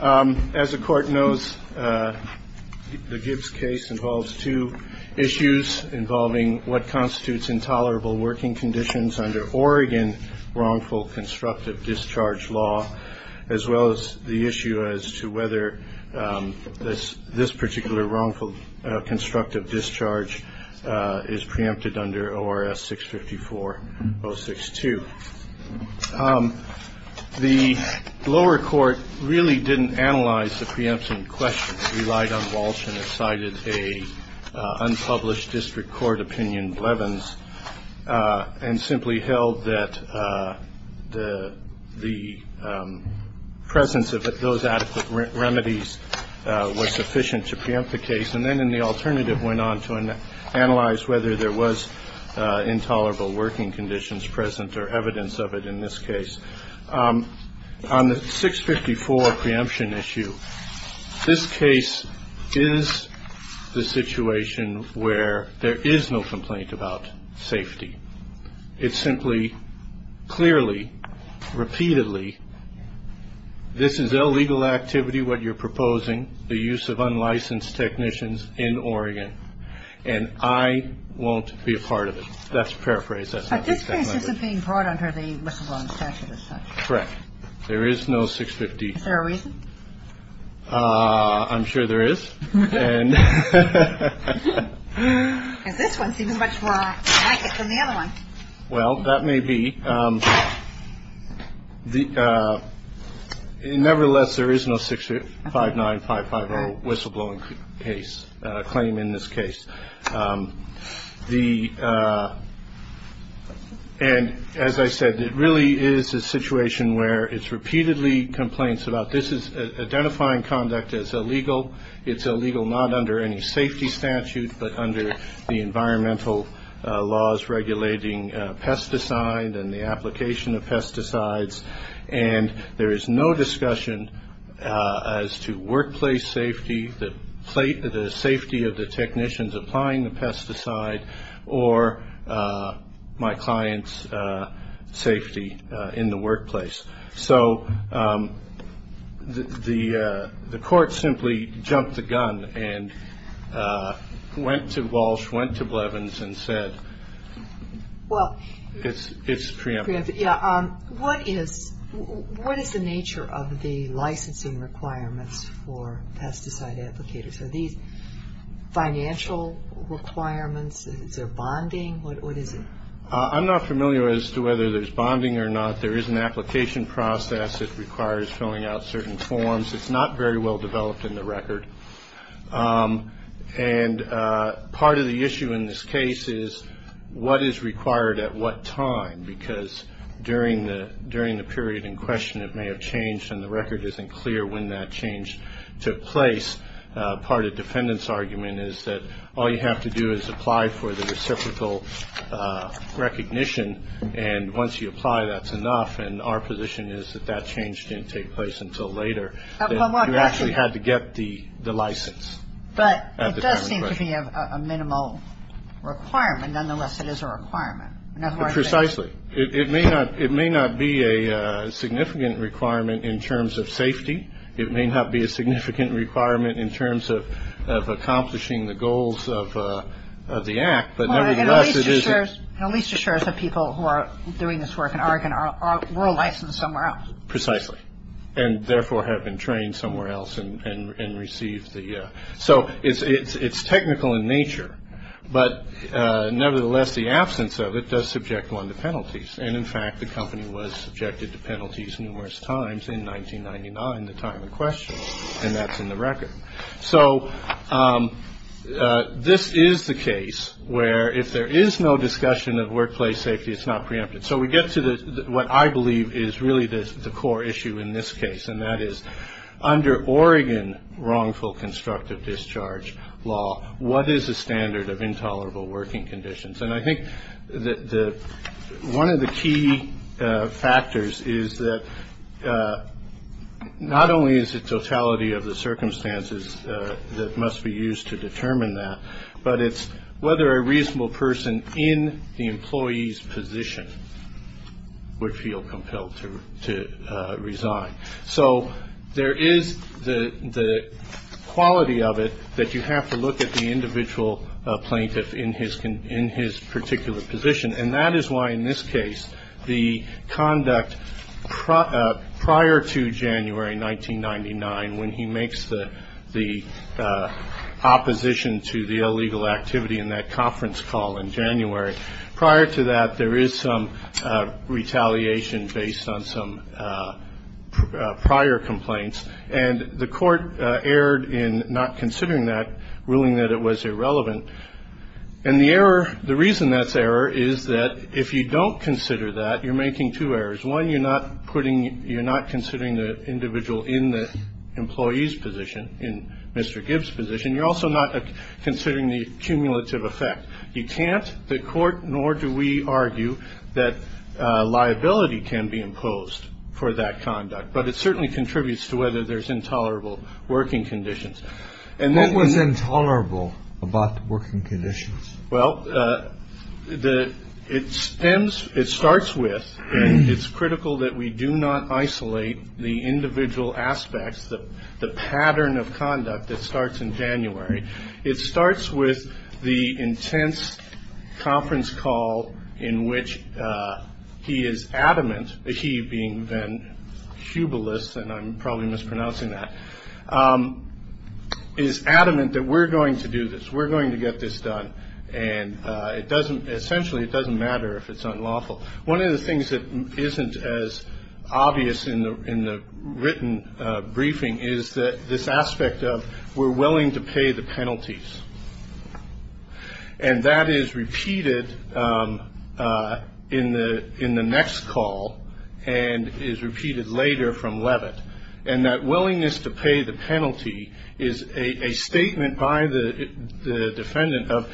As the court knows, the Gibbs case involves two issues involving what constitutes intolerable working conditions under Oregon Wrongful Constructive Discharge Law, as well as the issue as to whether this particular wrongful constructive discharge is preempted under ORS 654062. The lower court really didn't analyze the preemption question, relied on Walsh and cited an unpublished district court opinion, Blevins, and simply held that the presence of those adequate remedies was sufficient to preempt the case, and then in the alternative went on to analyze whether there was intolerable working conditions present or absent. And I think that's the evidence of it in this case. On the 654 preemption issue, this case is the situation where there is no complaint about safety. It's simply clearly, repeatedly, this is illegal activity, what you're proposing, the use of unlicensed technicians in Oregon, and I won't be a part of it. That's paraphrased. But this case isn't being brought under the whistleblowing statute as such. Correct. There is no 650. Is there a reason? I'm sure there is. And this one seems much more like it than the other one. Well, that may be. Nevertheless, there is no 659-550 whistleblowing case, claim in this case. And as I said, it really is a situation where it's repeatedly complaints about this is identifying conduct as illegal. It's illegal not under any safety statute but under the environmental laws regulating pesticides and the application of pesticides. And there is no discussion as to workplace safety, the safety of the technicians applying the pesticide, or my client's safety in the workplace. So the court simply jumped the gun and went to Walsh, went to Blevins, and said it's preempted. Yeah. What is the nature of the licensing requirements for pesticide applicators? Are these financial requirements? Is there bonding? What is it? I'm not familiar as to whether there's bonding or not. There is an application process that requires filling out certain forms. It's not very well developed in the record. And part of the issue in this case is what is required at what time? Because during the period in question, it may have changed, and the record isn't clear when that change took place. Part of the defendant's argument is that all you have to do is apply for the reciprocal recognition. And once you apply, that's enough. And our position is that that change didn't take place until later. You actually had to get the license at the time in question. But it does seem to be a minimal requirement. Nonetheless, it is a requirement. Precisely. It may not be a significant requirement in terms of safety. It may not be a significant requirement in terms of accomplishing the goals of the act. But nevertheless, it isn't. And at least it shows that people who are doing this work in Oregon were licensed somewhere else. Precisely. And therefore have been trained somewhere else and received the ‑‑ So it's technical in nature. But nevertheless, the absence of it does subject one to penalties. And in fact, the company was subjected to penalties numerous times in 1999, the time in question. And that's in the record. So this is the case where if there is no discussion of workplace safety, it's not preempted. So we get to what I believe is really the core issue in this case, and that is under Oregon wrongful constructive discharge law, what is the standard of intolerable working conditions? And I think one of the key factors is that not only is it totality of the circumstances that must be used to determine that, but it's whether a reasonable person in the employee's position would feel compelled to resign. So there is the quality of it that you have to look at the individual plaintiff in his particular position. And that is why in this case, the conduct prior to January 1999, when he makes the opposition to the illegal activity in that conference call in January, prior to that, there is some retaliation based on some prior complaints. And the court erred in not considering that, ruling that it was irrelevant. And the error, the reason that's error is that if you don't consider that, you're making two errors. One, you're not putting, you're not considering the individual in the employee's position, in Mr. Gibbs' position. You're also not considering the cumulative effect. You can't, the court, nor do we argue that liability can be imposed for that conduct. But it certainly contributes to whether there's intolerable working conditions. And what was intolerable about the working conditions? Well, it stems, it starts with, and it's critical that we do not isolate the individual aspects, the pattern of conduct that starts in January. It starts with the intense conference call in which he is adamant, he being then Hubelis, and I'm probably mispronouncing that, is adamant that we're going to do this. We're going to get this done. And it doesn't, essentially, it doesn't matter if it's unlawful. One of the things that isn't as obvious in the written briefing is this aspect of we're willing to pay the penalties. And that is repeated in the next call and is repeated later from Levitt. And that willingness to pay the penalty is a statement by the defendant of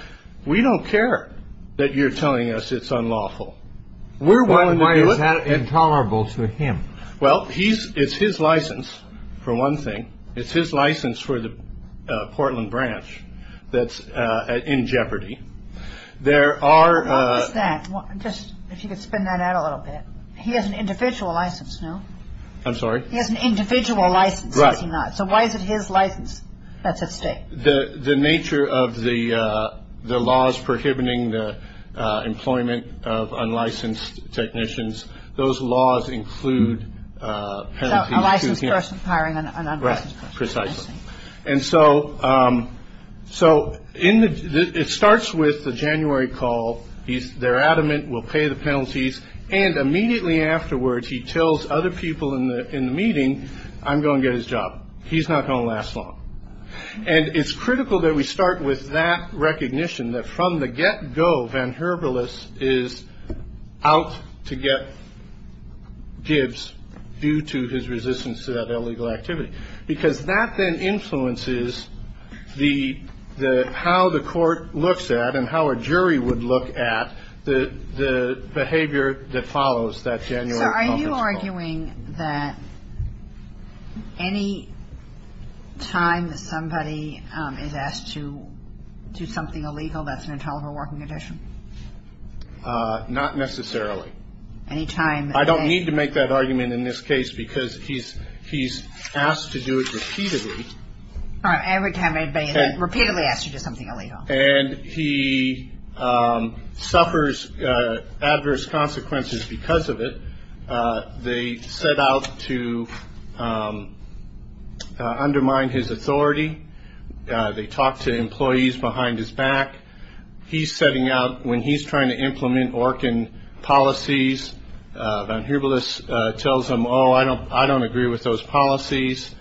we don't care that you're telling us it's unlawful. We're willing to do it. But why is that intolerable to him? Well, he's, it's his license, for one thing. It's his license for the Portland branch that's in jeopardy. There are. What was that? Just, if you could spin that out a little bit. He has an individual license, no? I'm sorry? He has an individual license, does he not? Right. So why is it his license that's at stake? The nature of the laws prohibiting the employment of unlicensed technicians, those laws include penalties. So a licensed person hiring an unlicensed person. Right, precisely. Interesting. And so in the, it starts with the January call. They're adamant, we'll pay the penalties. And immediately afterwards, he tells other people in the meeting, I'm going to get his job. He's not going to last long. And it's critical that we start with that recognition, that from the get-go, Van Herbelis is out to get Gibbs due to his resistance to that illegal activity. Because that then influences the, how the court looks at and how a jury would look at the behavior that follows that January conference call. Are you arguing that any time that somebody is asked to do something illegal, that's an intolerable working condition? Not necessarily. Any time that they. I don't need to make that argument in this case, because he's asked to do it repeatedly. Every time anybody is repeatedly asked to do something illegal. And he suffers adverse consequences because of it. They set out to undermine his authority. They talk to employees behind his back. He's setting out when he's trying to implement Orkin policies. Van Herbelis tells him, oh, I don't, I don't agree with those policies.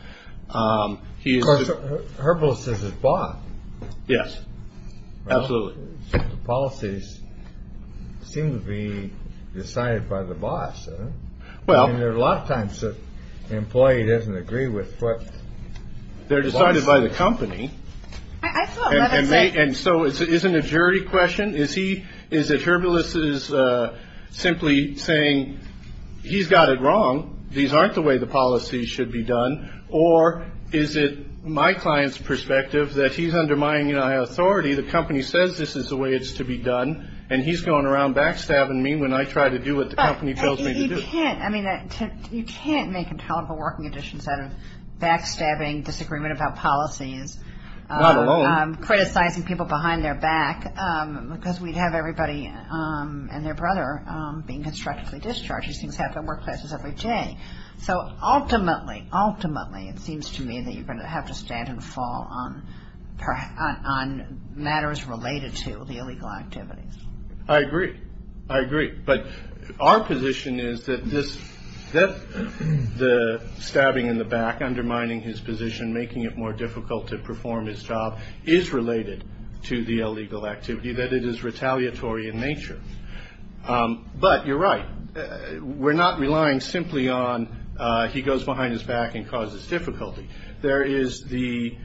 He Herbalis is his boss. Yes, absolutely. The policies seem to be decided by the boss. Well, there are a lot of times the employee doesn't agree with what they're decided by the company. And so it isn't a jury question. Is he. Is it Herbalis is simply saying he's got it wrong. These aren't the way the policy should be done. Or is it my client's perspective that he's undermining my authority. The company says this is the way it's to be done. And he's going around backstabbing me when I try to do what the company tells me to do. I mean, you can't make intolerable working conditions out of backstabbing, disagreement about policies. Not alone. Criticizing people behind their back because we'd have everybody and their brother being constructively discharged. These things happen in workplaces every day. So ultimately, ultimately, it seems to me that you're going to have to stand and fall on matters related to the illegal activities. I agree. I agree. But our position is that the stabbing in the back, undermining his position, making it more difficult to perform his job, is related to the illegal activity, that it is retaliatory in nature. But you're right. We're not relying simply on he goes behind his back and causes difficulty. There is the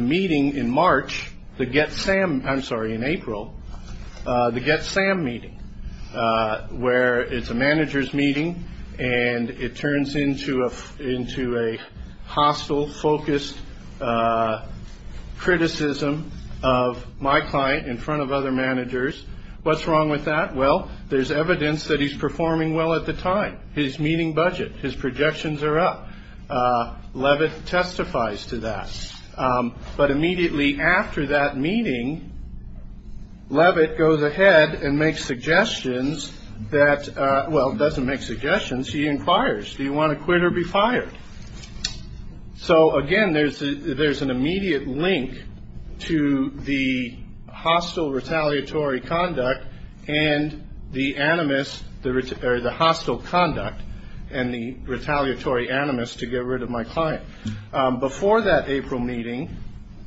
meeting in March, the Get Sam, I'm sorry, in April, the Get Sam meeting, where it's a manager's meeting and it turns into a hostile, focused criticism of my client in front of other managers. What's wrong with that? Well, there's evidence that he's performing well at the time. His meeting budget, his projections are up. Levitt testifies to that. But immediately after that meeting, Levitt goes ahead and makes suggestions that, well, doesn't make suggestions. He inquires, do you want to quit or be fired? So, again, there's an immediate link to the hostile retaliatory conduct and the animus, or the hostile conduct and the retaliatory animus to get rid of my client. Before that April meeting,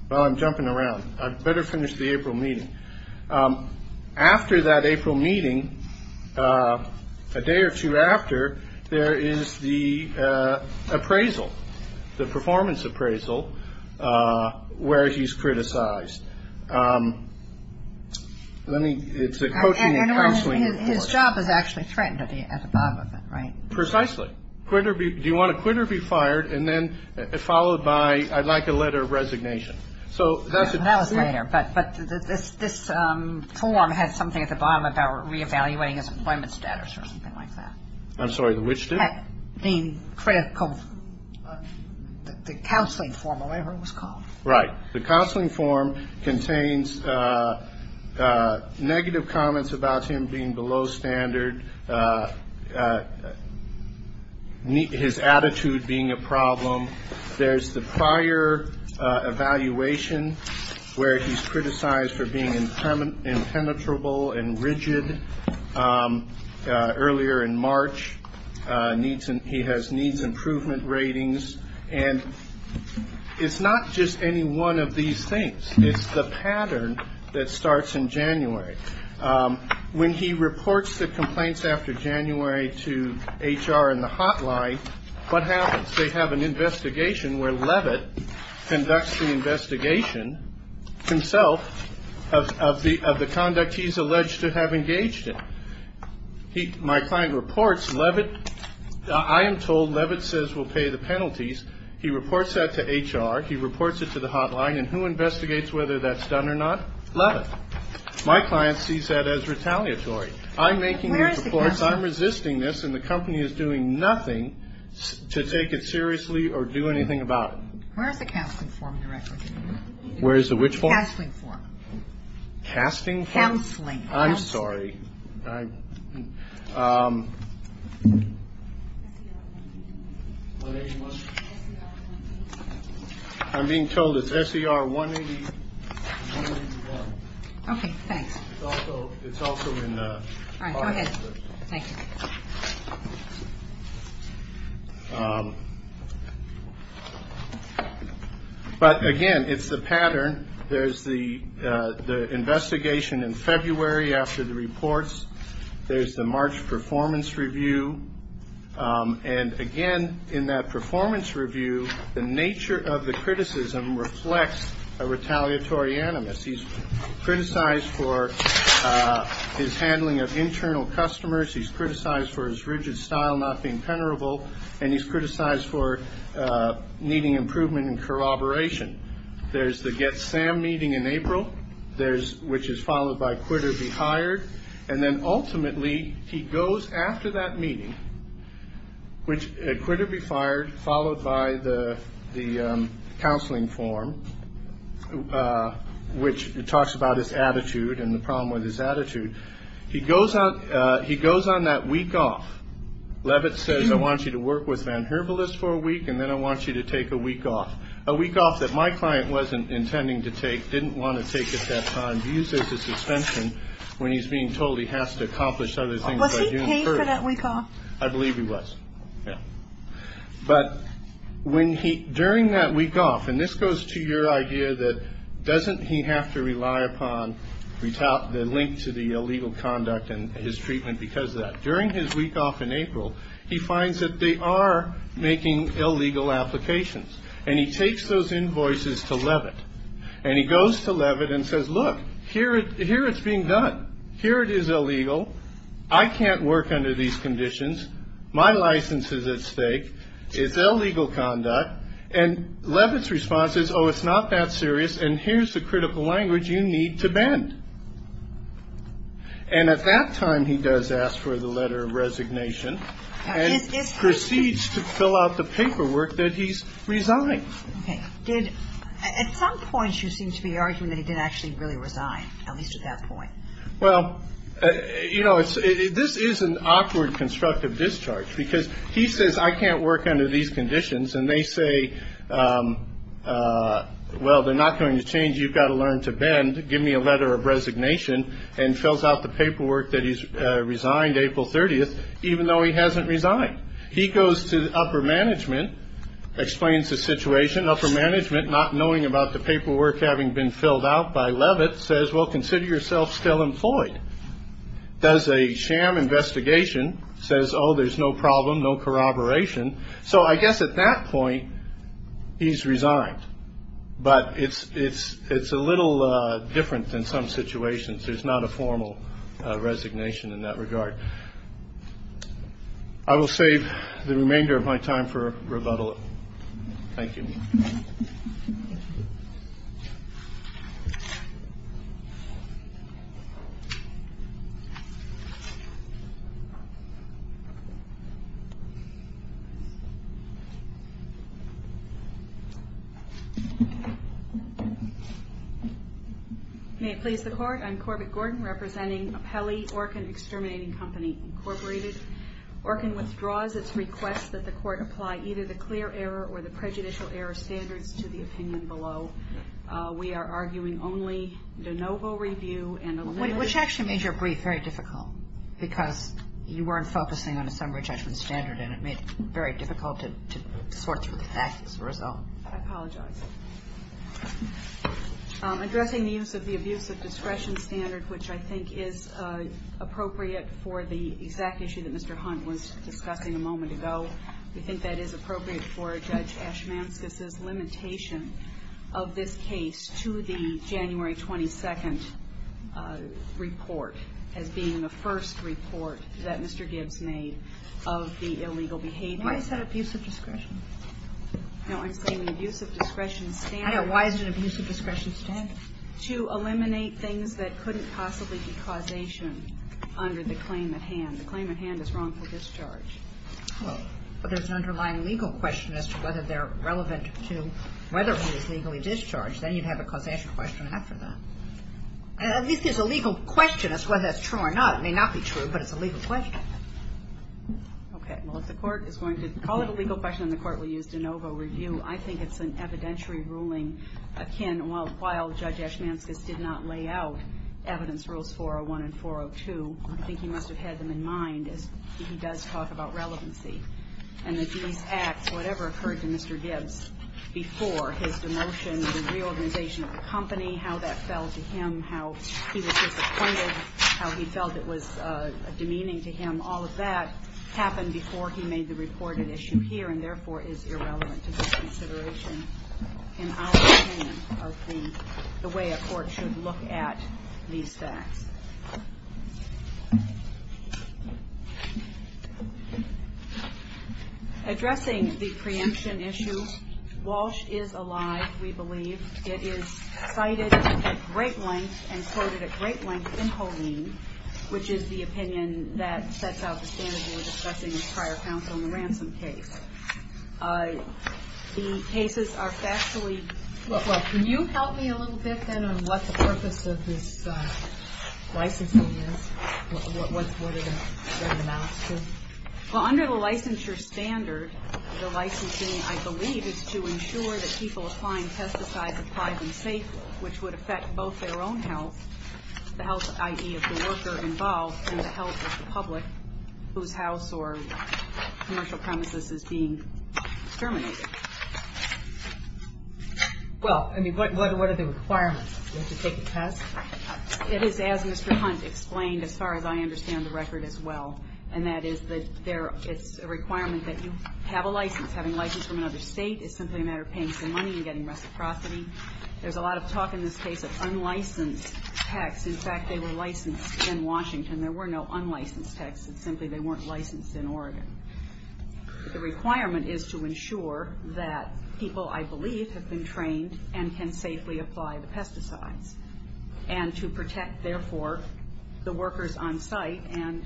well, I'm jumping around. I'd better finish the April meeting. After that April meeting, a day or two after, there is the appraisal, the performance appraisal, where he's criticized. It's a coaching and counseling report. His job is actually threatened at the bottom of it, right? Precisely. Do you want to quit or be fired? And then followed by, I'd like a letter of resignation. That was later. But this form has something at the bottom about reevaluating his employment status or something like that. I'm sorry, which do? The counseling form, or whatever it was called. Right. The counseling form contains negative comments about him being below standard, his attitude being a problem. There's the prior evaluation where he's criticized for being impenetrable and rigid. Earlier in March, he has needs improvement ratings. And it's not just any one of these things. It's the pattern that starts in January. When he reports the complaints after January to HR and the hotline, what happens? They have an investigation where Levitt conducts the investigation himself of the conduct he's alleged to have engaged in. My client reports Levitt. I am told Levitt says we'll pay the penalties. He reports that to HR. He reports it to the hotline. And who investigates whether that's done or not? Levitt. My client sees that as retaliatory. I'm making these reports. I'm resisting this. And the company is doing nothing to take it seriously or do anything about it. Where is the counseling form directly? Where is the which form? Counseling form. Casting form? Counseling. I'm sorry. I'm being told it's SER 181. Okay. Thanks. It's also in the file. All right. Go ahead. Thank you. But, again, it's the pattern. There's the investigation in February after the reports. There's the March performance review. And, again, in that performance review, the nature of the criticism reflects a retaliatory animus. He's criticized for his handling of internal customers. He's criticized for his rigid style not being penetrable. And he's criticized for needing improvement in corroboration. There's the Get Sam meeting in April, which is followed by Quit or Be Hired. And then, ultimately, he goes after that meeting, Quit or Be Fired, followed by the counseling form, which talks about his attitude and the problem with his attitude. He goes on that week off. Levitt says, I want you to work with Van Herbelis for a week, and then I want you to take a week off. A week off that my client wasn't intending to take, didn't want to take at that time. He uses his suspension when he's being told he has to accomplish other things by June 1st. Was he paid for that week off? I believe he was. Yeah. But during that week off, and this goes to your idea that doesn't he have to rely upon the link to the illegal conduct and his treatment because of that? During his week off in April, he finds that they are making illegal applications. And he takes those invoices to Levitt. And he goes to Levitt and says, look, here it's being done. Here it is illegal. I can't work under these conditions. My license is at stake. It's illegal conduct. And Levitt's response is, oh, it's not that serious, and here's the critical language you need to bend. And at that time he does ask for the letter of resignation and proceeds to fill out the paperwork that he's resigned. Okay. Did at some point you seem to be arguing that he did actually really resign, at least at that point? Well, you know, this is an awkward constructive discharge because he says I can't work under these conditions. And they say, well, they're not going to change. You've got to learn to bend. Give me a letter of resignation and fills out the paperwork that he's resigned April 30th, even though he hasn't resigned. He goes to upper management, explains the situation. Upper management, not knowing about the paperwork having been filled out by Levitt, says, well, consider yourself still employed. Does a sham investigation. Says, oh, there's no problem, no corroboration. So I guess at that point he's resigned. But it's it's it's a little different than some situations. There's not a formal resignation in that regard. I will save the remainder of my time for rebuttal. Thank you. May it please the court. I'm Corbett Gordon representing Peli Orkin Exterminating Company, Incorporated. Orkin withdraws its request that the court apply either the clear error or the prejudicial error standards to the opinion below. We are arguing only de novo review and which actually made your brief very difficult because you weren't focusing on a summary judgment standard. And it made it very difficult to sort through the fact as a result. I apologize. Addressing the use of the abuse of discretion standard, which I think is appropriate for the exact issue that Mr. Hunt was discussing a moment ago. We think that is appropriate for Judge Ashman's limitation of this case to the January 22nd report as being the first report that Mr. Why is that abuse of discretion? No, I'm saying the use of discretion standard. Why is it abuse of discretion standard? To eliminate things that couldn't possibly be causation under the claim at hand. The claim at hand is wrongful discharge. Well, but there's an underlying legal question as to whether they're relevant to whether one is legally discharged. Then you'd have a causation question after that. At least there's a legal question as to whether that's true or not. It may not be true, but it's a legal question. Okay. Well, if the court is going to call it a legal question and the court will use de novo review, I think it's an evidentiary ruling. While Judge Ashman's case did not lay out evidence rules 401 and 402, I think he must have had them in mind as he does talk about relevancy. And that these acts, whatever occurred to Mr. Gibbs before his demotion, the reorganization of the company, how that fell to him, how he was disappointed, how he felt it was demeaning to him, all of that happened before he made the reported issue here, and therefore is irrelevant to this consideration in our opinion of the way a court should look at these facts. Addressing the preemption issue, Walsh is alive, we believe. It is cited at great length and quoted at great length in Holeen, which is the opinion that sets out the standards we were discussing in the prior counsel in the ransom case. The cases are factually – Well, can you help me a little bit then on what the purpose of this licensing is? What are the amounts to? Well, under the licensure standard, the licensing, I believe, is to ensure that people applying pesticides are tried and safe, which would affect both their own health, the health, i.e., of the worker involved, and the health of the public whose house or commercial premises is being terminated. Well, I mean, what are the requirements? Do we have to take a test? It is, as Mr. Hunt explained, as far as I understand the record as well, and that is that it's a requirement that you have a license. Having a license from another state is simply a matter of paying some money and getting reciprocity. There's a lot of talk in this case of unlicensed texts. In fact, they were licensed in Washington. There were no unlicensed texts. It's simply they weren't licensed in Oregon. The requirement is to ensure that people, I believe, have been trained and can safely apply the pesticides, and to protect, therefore, the workers on site and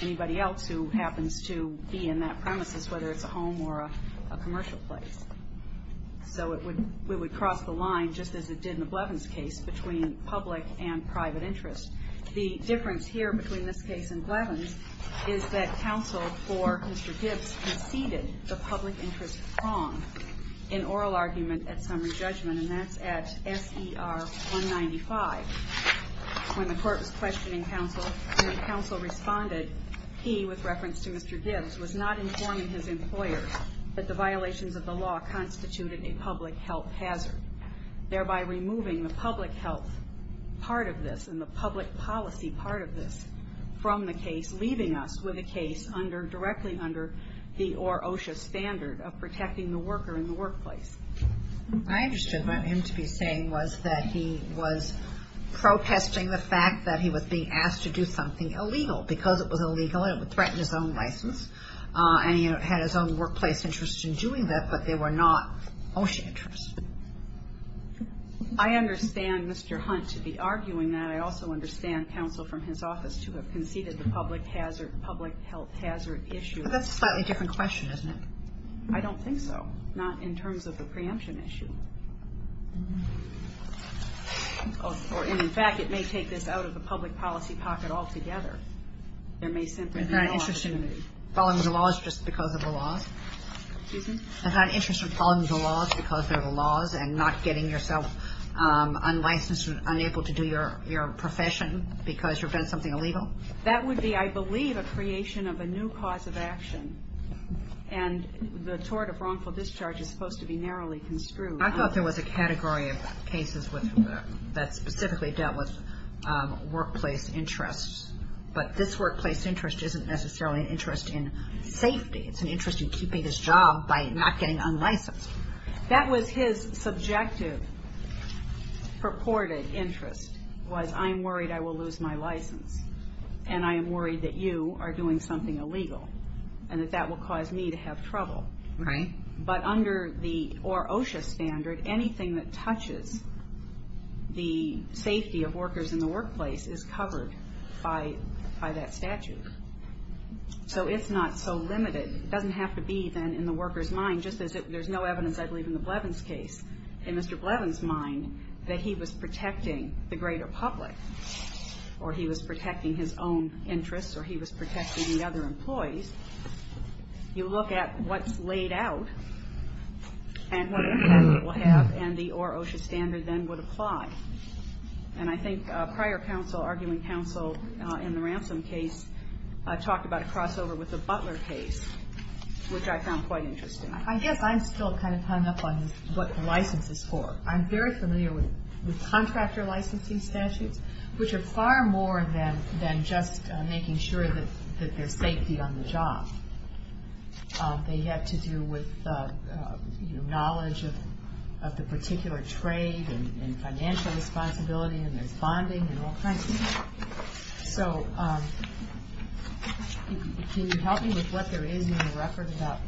anybody else who happens to be in that premises, whether it's a home or a commercial place. So we would cross the line, just as it did in the Blevins case, between public and private interest. The difference here between this case and Blevins is that counsel for Mr. Gibbs conceded the public interest wrong in oral argument at summary judgment, and that's at SER 195. When the court was questioning counsel and the counsel responded, he, with reference to Mr. Gibbs, was not informing his employer that the violations of the law constituted a public health hazard, thereby removing the public health part of this and the public policy part of this from the case, leaving us with a case directly under the or OSHA standard of protecting the worker in the workplace. I understand. What I meant to be saying was that he was protesting the fact that he was being asked to do something illegal, because it was illegal and it would threaten his own license, and he had his own workplace interest in doing that, but they were not OSHA interests. I understand Mr. Hunt to be arguing that. And I also understand counsel from his office to have conceded the public health hazard issue. But that's a slightly different question, isn't it? I don't think so, not in terms of the preemption issue. And, in fact, it may take this out of the public policy pocket altogether. There may simply be no opportunity. Isn't that an interest in following the laws just because of the laws? Excuse me? Isn't that an interest in following the laws because they're the laws and not getting yourself unlicensed or unable to do your profession because you've done something illegal? That would be, I believe, a creation of a new cause of action. And the tort of wrongful discharge is supposed to be narrowly construed. I thought there was a category of cases that specifically dealt with workplace interests. But this workplace interest isn't necessarily an interest in safety. It's an interest in keeping his job by not getting unlicensed. That was his subjective purported interest was, I'm worried I will lose my license, and I am worried that you are doing something illegal and that that will cause me to have trouble. Right. But under the OSHA standard, anything that touches the safety of workers in the workplace is covered by that statute. So it's not so limited. It doesn't have to be, then, in the worker's mind, just as there's no evidence, I believe, in the Blevins case. In Mr. Blevins' mind, that he was protecting the greater public or he was protecting his own interests or he was protecting the other employees. You look at what's laid out and what it will have and the OSHA standard then would apply. And I think prior counsel, arguing counsel in the ransom case, talked about a crossover with the Butler case, which I found quite interesting. I guess I'm still kind of hung up on what the license is for. I'm very familiar with contractor licensing statutes, which are far more than just making sure that there's safety on the job. They have to do with knowledge of the particular trade and financial responsibility and there's bonding and all kinds of things. So can you help me with what there is in the record about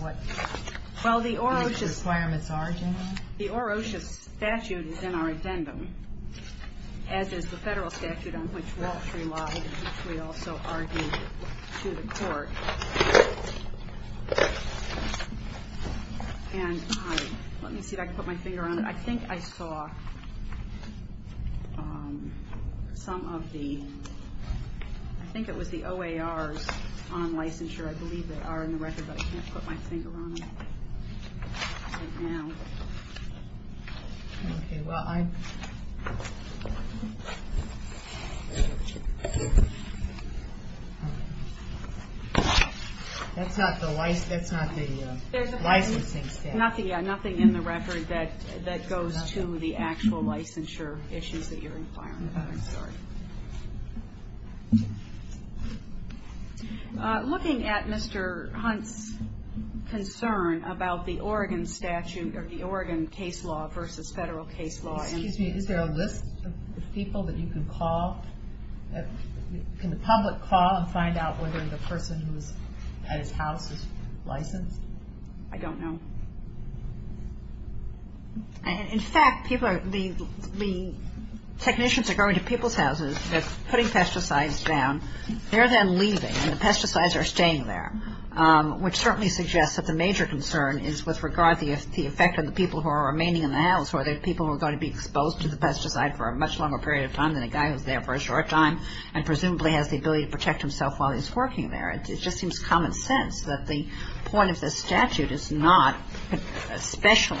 what these requirements are generally? The OSHA statute is in our addendum, as is the federal statute on which Walsh relied, which we also argued to the court. And let me see if I can put my finger on it. I think I saw some of the – I think it was the OAR's on licensure. I believe they are in the record, but I can't put my finger on it right now. Okay, well, I – That's not the licensing statute. Nothing in the record that goes to the actual licensure issues that you're inquiring about. I'm sorry. Looking at Mr. Hunt's concern about the Oregon statute or the Oregon case law versus federal case law. Excuse me. Is there a list of people that you can call? Can the public call and find out whether the person who is at his house is licensed? I don't know. In fact, people are – the technicians are going to people's houses. They're putting pesticides down. They're then leaving, and the pesticides are staying there, which certainly suggests that the major concern is with regard to the effect on the people who are remaining in the house. Are there people who are going to be exposed to the pesticide for a much longer period of time than a guy who's there for a short time and presumably has the ability to protect himself while he's working there? It just seems common sense that the point of this statute is not especially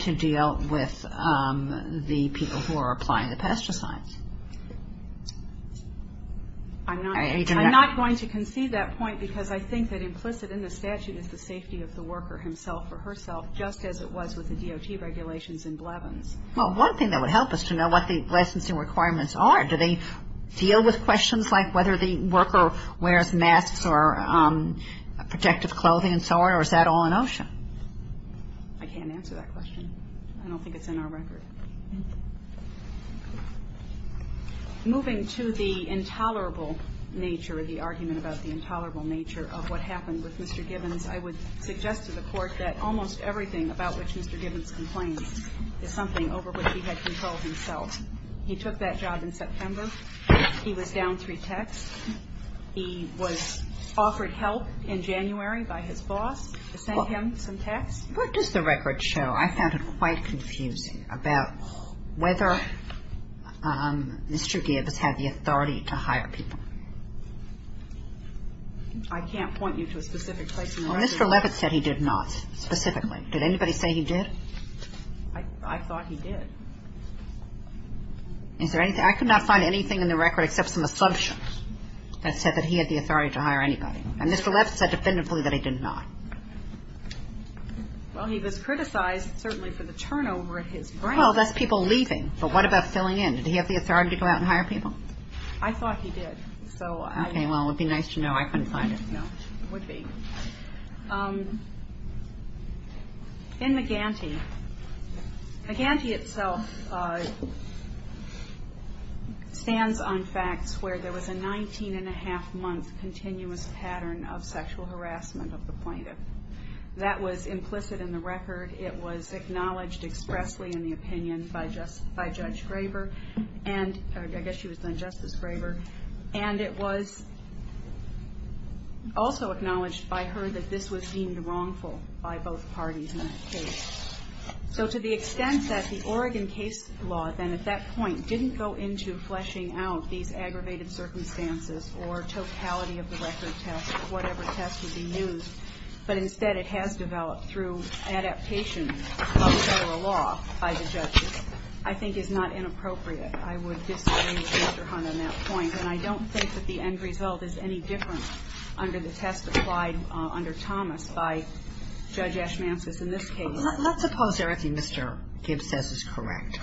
to deal with the people who are applying the pesticides. I'm not going to concede that point because I think that implicit in the statute is the safety of the worker himself or herself, just as it was with the DOT regulations in Blevins. Well, one thing that would help us to know what the licensing requirements are. Do they deal with questions like whether the worker wears masks or protective clothing and so on, or is that all an ocean? I can't answer that question. I don't think it's in our record. Moving to the intolerable nature of the argument about the intolerable nature of what happened with Mr. Gibbons, I would suggest to the Court that almost everything about which Mr. Gibbons complained is something over which he had control himself. He took that job in September. He was down three texts. He was offered help in January by his boss to send him some texts. What does the record show? I found it quite confusing about whether Mr. Gibbons had the authority to hire people. I can't point you to a specific place in the record. Well, Mr. Levitt said he did not specifically. Did anybody say he did? I thought he did. Is there anything? I could not find anything in the record except some assumptions that said that he had the authority to hire anybody. And Mr. Levitt said definitively that he did not. Well, he was criticized, certainly, for the turnover at his branch. Well, that's people leaving, but what about filling in? Did he have the authority to go out and hire people? I thought he did. Okay, well, it would be nice to know. I couldn't find it. No, it would be. In McGanty, McGanty itself stands on facts where there was a 19-and-a-half-month continuous pattern of sexual harassment of the plaintiff. That was implicit in the record. It was acknowledged expressly in the opinion by Judge Graber. I guess she was then Justice Graber. And it was also acknowledged by her that this was deemed wrongful by both parties in that case. So to the extent that the Oregon case law then at that point didn't go into fleshing out these aggravated circumstances or totality of the record test or whatever test would be used, but instead it has developed through adaptation of federal law by the judges, I think is not inappropriate. I would disagree with Mr. Hunt on that point. And I don't think that the end result is any different under the test applied under Thomas by Judge Ashmansis in this case. Let's suppose everything Mr. Gibbs says is correct.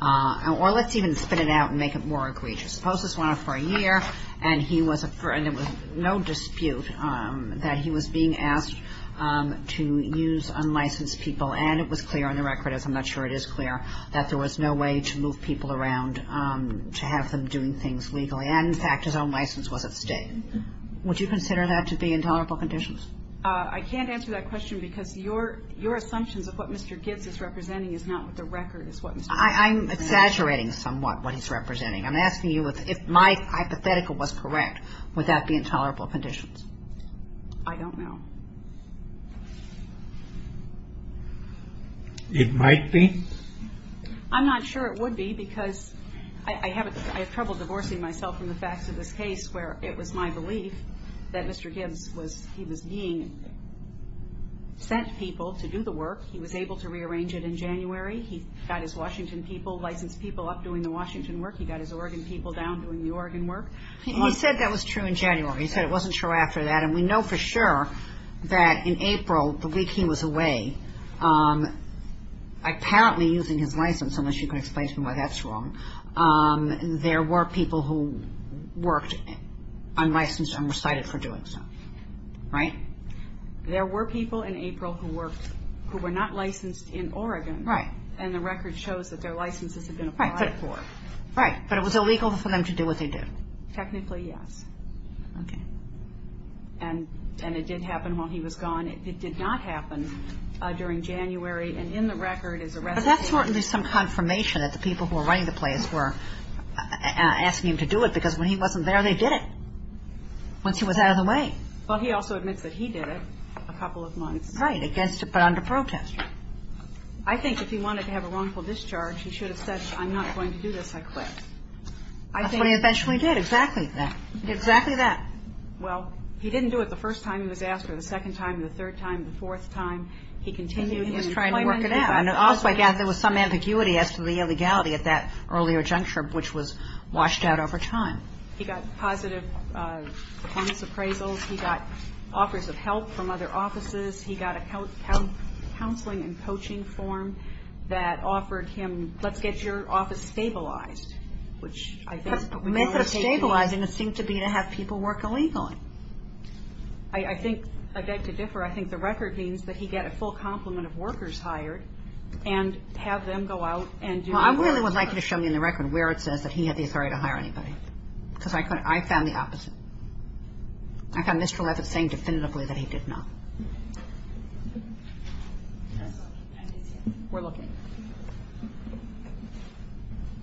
Or let's even spit it out and make it more egregious. Suppose this went on for a year, and there was no dispute that he was being asked to use unlicensed people, and it was clear on the record, as I'm not sure it is clear, that there was no way to move people around to have them doing things legally. And, in fact, his own license was at stake. Would you consider that to be intolerable conditions? I can't answer that question because your assumptions of what Mr. Gibbs is representing is not what the record is. I'm exaggerating somewhat what he's representing. I'm asking you if my hypothetical was correct, would that be intolerable conditions? I don't know. It might be. I'm not sure it would be because I have trouble divorcing myself from the facts of this case where it was my belief that Mr. Gibbs was being sent people to do the work. He was able to rearrange it in January. He got his Washington people, licensed people, up doing the Washington work. He got his Oregon people down doing the Oregon work. He said that was true in January. He said it wasn't true after that. And we know for sure that in April, the week he was away, apparently using his license, unless you can explain to me why that's wrong, there were people who worked unlicensed and were cited for doing so. Right? There were people in April who were not licensed in Oregon. Right. And the record shows that their licenses had been applied for. Right. But it was illegal for them to do what they did. Technically, yes. Okay. And it did happen while he was gone. It did not happen during January. And in the record is a record. But that's certainly some confirmation that the people who were running the place were asking him to do it because when he wasn't there, they did it once he was out of the way. Well, he also admits that he did it a couple of months. Right, but under protest. I think if he wanted to have a wrongful discharge, he should have said, I'm not going to do this, I quit. That's what he eventually did, exactly. Exactly that. Well, he didn't do it the first time he was asked, or the second time, the third time, the fourth time. He continued his employment. And he was trying to work it out. And also, again, there was some ambiguity as to the illegality at that earlier juncture, which was washed out over time. He got positive performance appraisals. He got offers of help from other offices. He got a counseling and coaching form that offered him, let's get your office stabilized, which I think. The method of stabilizing seemed to be to have people work illegally. I think, I beg to differ, I think the record means that he got a full complement of workers hired and have them go out and do. Well, I really would like you to show me in the record where it says that he had the authority to hire anybody. Because I found the opposite. I found Mr. Leavitt saying definitively that he did not. We're looking.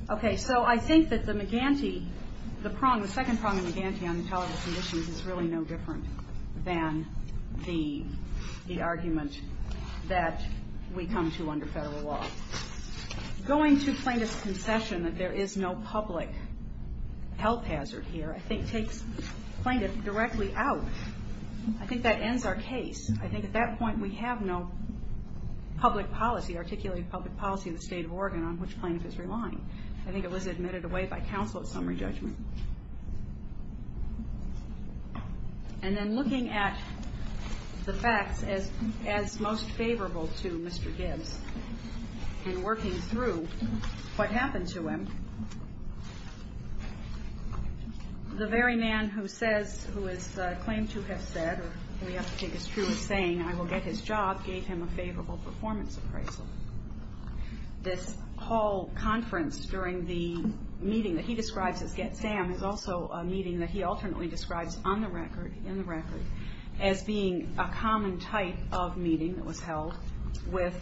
Okay, so I think that the McGinty, the prong, the second prong of McGinty on intelligence conditions is really no different than the argument that we come to under federal law. Going to plaintiff's concession that there is no public health hazard here, I think takes plaintiff directly out. I think that ends our case. I think at that point we have no public policy, articulate public policy in the state of Oregon on which plaintiff is relying. I think it was admitted away by counsel at summary judgment. And then looking at the facts as most favorable to Mr. Gibbs and working through what happened to him, the very man who says, who is claimed to have said, or we have to take as true as saying, I will get his job gave him a favorable performance appraisal. This whole conference during the meeting that he describes as Get Sam is also a meeting that he alternately describes on the record, in the record, as being a common type of meeting that was held with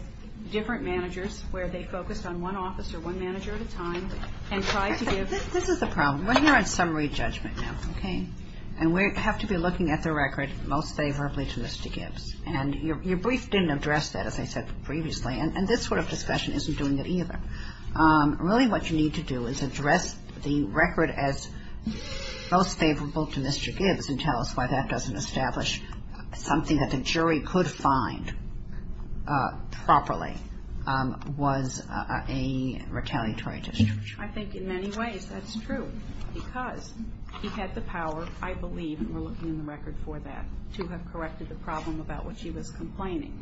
different managers where they focused on one officer, one manager at a time, and tried to give This is the problem. We're here at summary judgment now, okay? And we have to be looking at the record most favorably to Mr. Gibbs. And your brief didn't address that, as I said previously. And this sort of discussion isn't doing it either. Really what you need to do is address the record as most favorable to Mr. Gibbs and tell us why that doesn't establish something that the jury could find properly was a retaliatory district. I think in many ways that's true because he had the power, I believe, and we're looking in the record for that, to have corrected the problem about which he was complaining.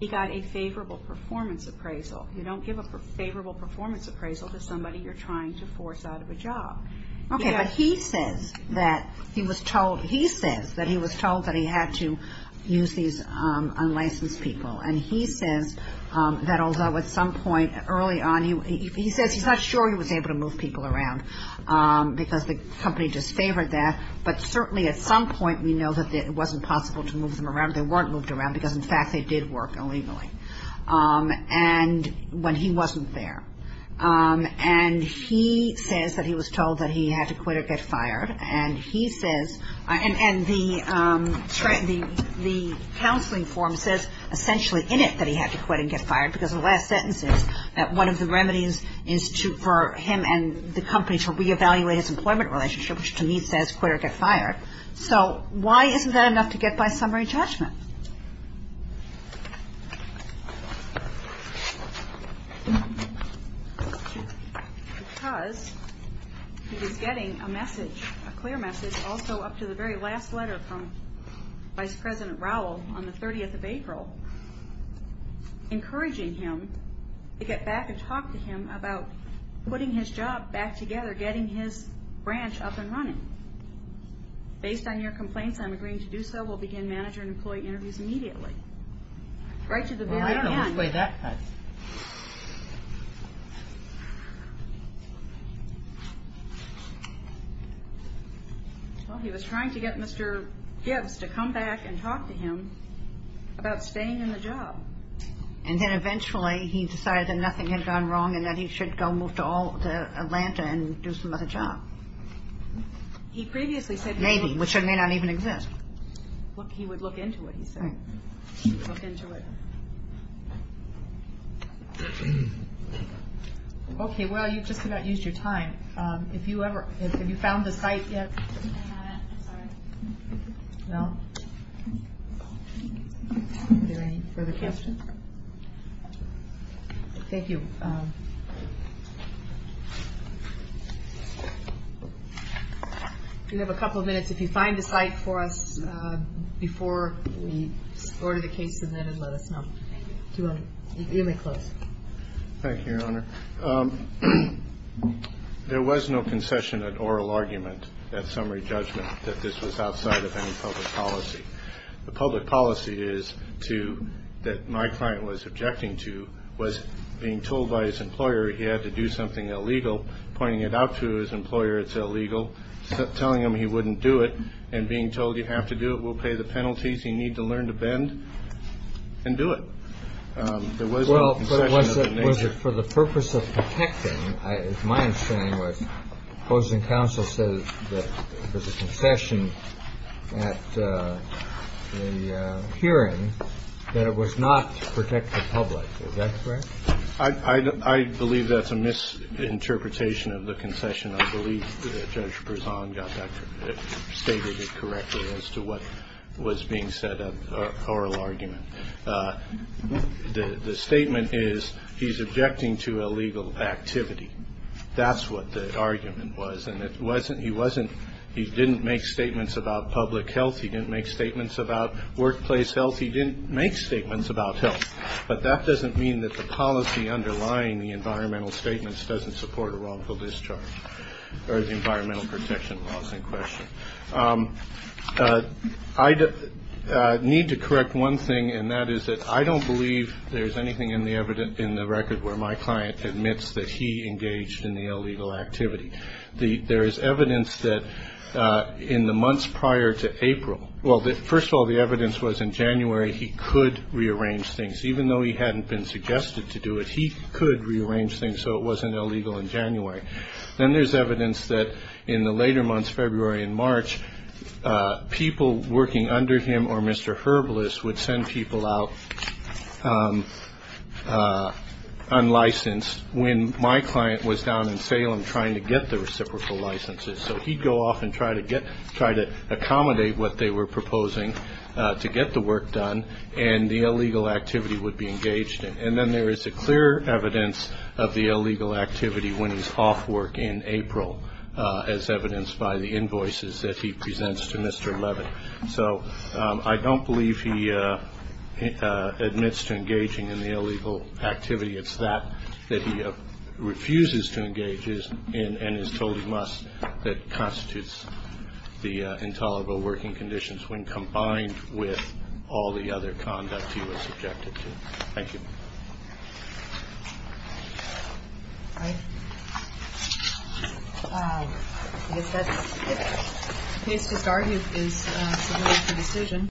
He got a favorable performance appraisal. You don't give a favorable performance appraisal to somebody you're trying to force out of a job. Okay. But he says that he was told that he had to use these unlicensed people. And he says that although at some point early on, he says he's not sure he was able to move people around because the company disfavored that. But certainly at some point we know that it wasn't possible to move them around. They weren't moved around because, in fact, they did work illegally when he wasn't there. And he says that he was told that he had to quit or get fired. And he says, and the counseling form says essentially in it that he had to quit and get fired because the last sentence is that one of the remedies is for him and the company to reevaluate his employment relationship, which to me says quit or get fired. So why isn't that enough to get by summary judgment? Because he was getting a message, a clear message, also up to the very last letter from Vice President Rowell on the 30th of April, encouraging him to get back and talk to him about putting his job back together, getting his branch up and running. Based on your complaints, I'm agreeing to do so. We'll begin manager and employee interviews immediately. Right to the very end. Well, I don't know which way that cuts. Well, he was trying to get Mr. Gibbs to come back and talk to him about staying in the job. And then eventually he decided that nothing had gone wrong and that he should go move to Atlanta and do some other job. He previously said he would. Maybe, which may not even exist. He would look into it, he said. He would look into it. Okay. Well, you've just about used your time. Have you found the site yet? No, not yet. I'm sorry. Well, are there any further questions? Thank you. You have a couple of minutes. If you find the site for us before we order the case, let us know. You may close. Thank you, Your Honor. There was no concession at oral argument, at summary judgment, that this was outside of any public policy. The public policy is to, that my client was objecting to, was being told by his employer he had to do something illegal, pointing it out to his employer it's illegal, telling him he wouldn't do it, and being told you have to do it, we'll pay the penalties, you need to learn to bend, and do it. There was no concession of that nature. Well, for the purpose of protecting, my understanding was opposing counsel said that there was a concession at the hearing, that it was not to protect the public. Is that correct? I believe that's a misinterpretation of the concession. I believe Judge Berzon stated it correctly as to what was being said at oral argument. The statement is he's objecting to illegal activity. That's what the argument was. And he didn't make statements about public health. He didn't make statements about workplace health. He didn't make statements about health. But that doesn't mean that the policy underlying the environmental statements doesn't support a wrongful discharge or the environmental protection laws in question. I need to correct one thing, and that is that I don't believe there's anything in the record where my client admits that he engaged in the illegal activity. There is evidence that in the months prior to April, well, first of all, the evidence was in January, he could rearrange things. Even though he hadn't been suggested to do it, he could rearrange things so it wasn't illegal in January. Then there's evidence that in the later months, February and March, people working under him or Mr. Herbalist would send people out unlicensed when my client was down in Salem trying to get the reciprocal licenses. So he'd go off and try to accommodate what they were proposing to get the work done, and the illegal activity would be engaged in. And then there is a clear evidence of the illegal activity when he's off work in April, as evidenced by the invoices that he presents to Mr. Levin. So I don't believe he admits to engaging in the illegal activity. It's that that he refuses to engage in and is told he must that constitutes the intolerable working conditions when combined with all the other conduct he was subjected to. Thank you.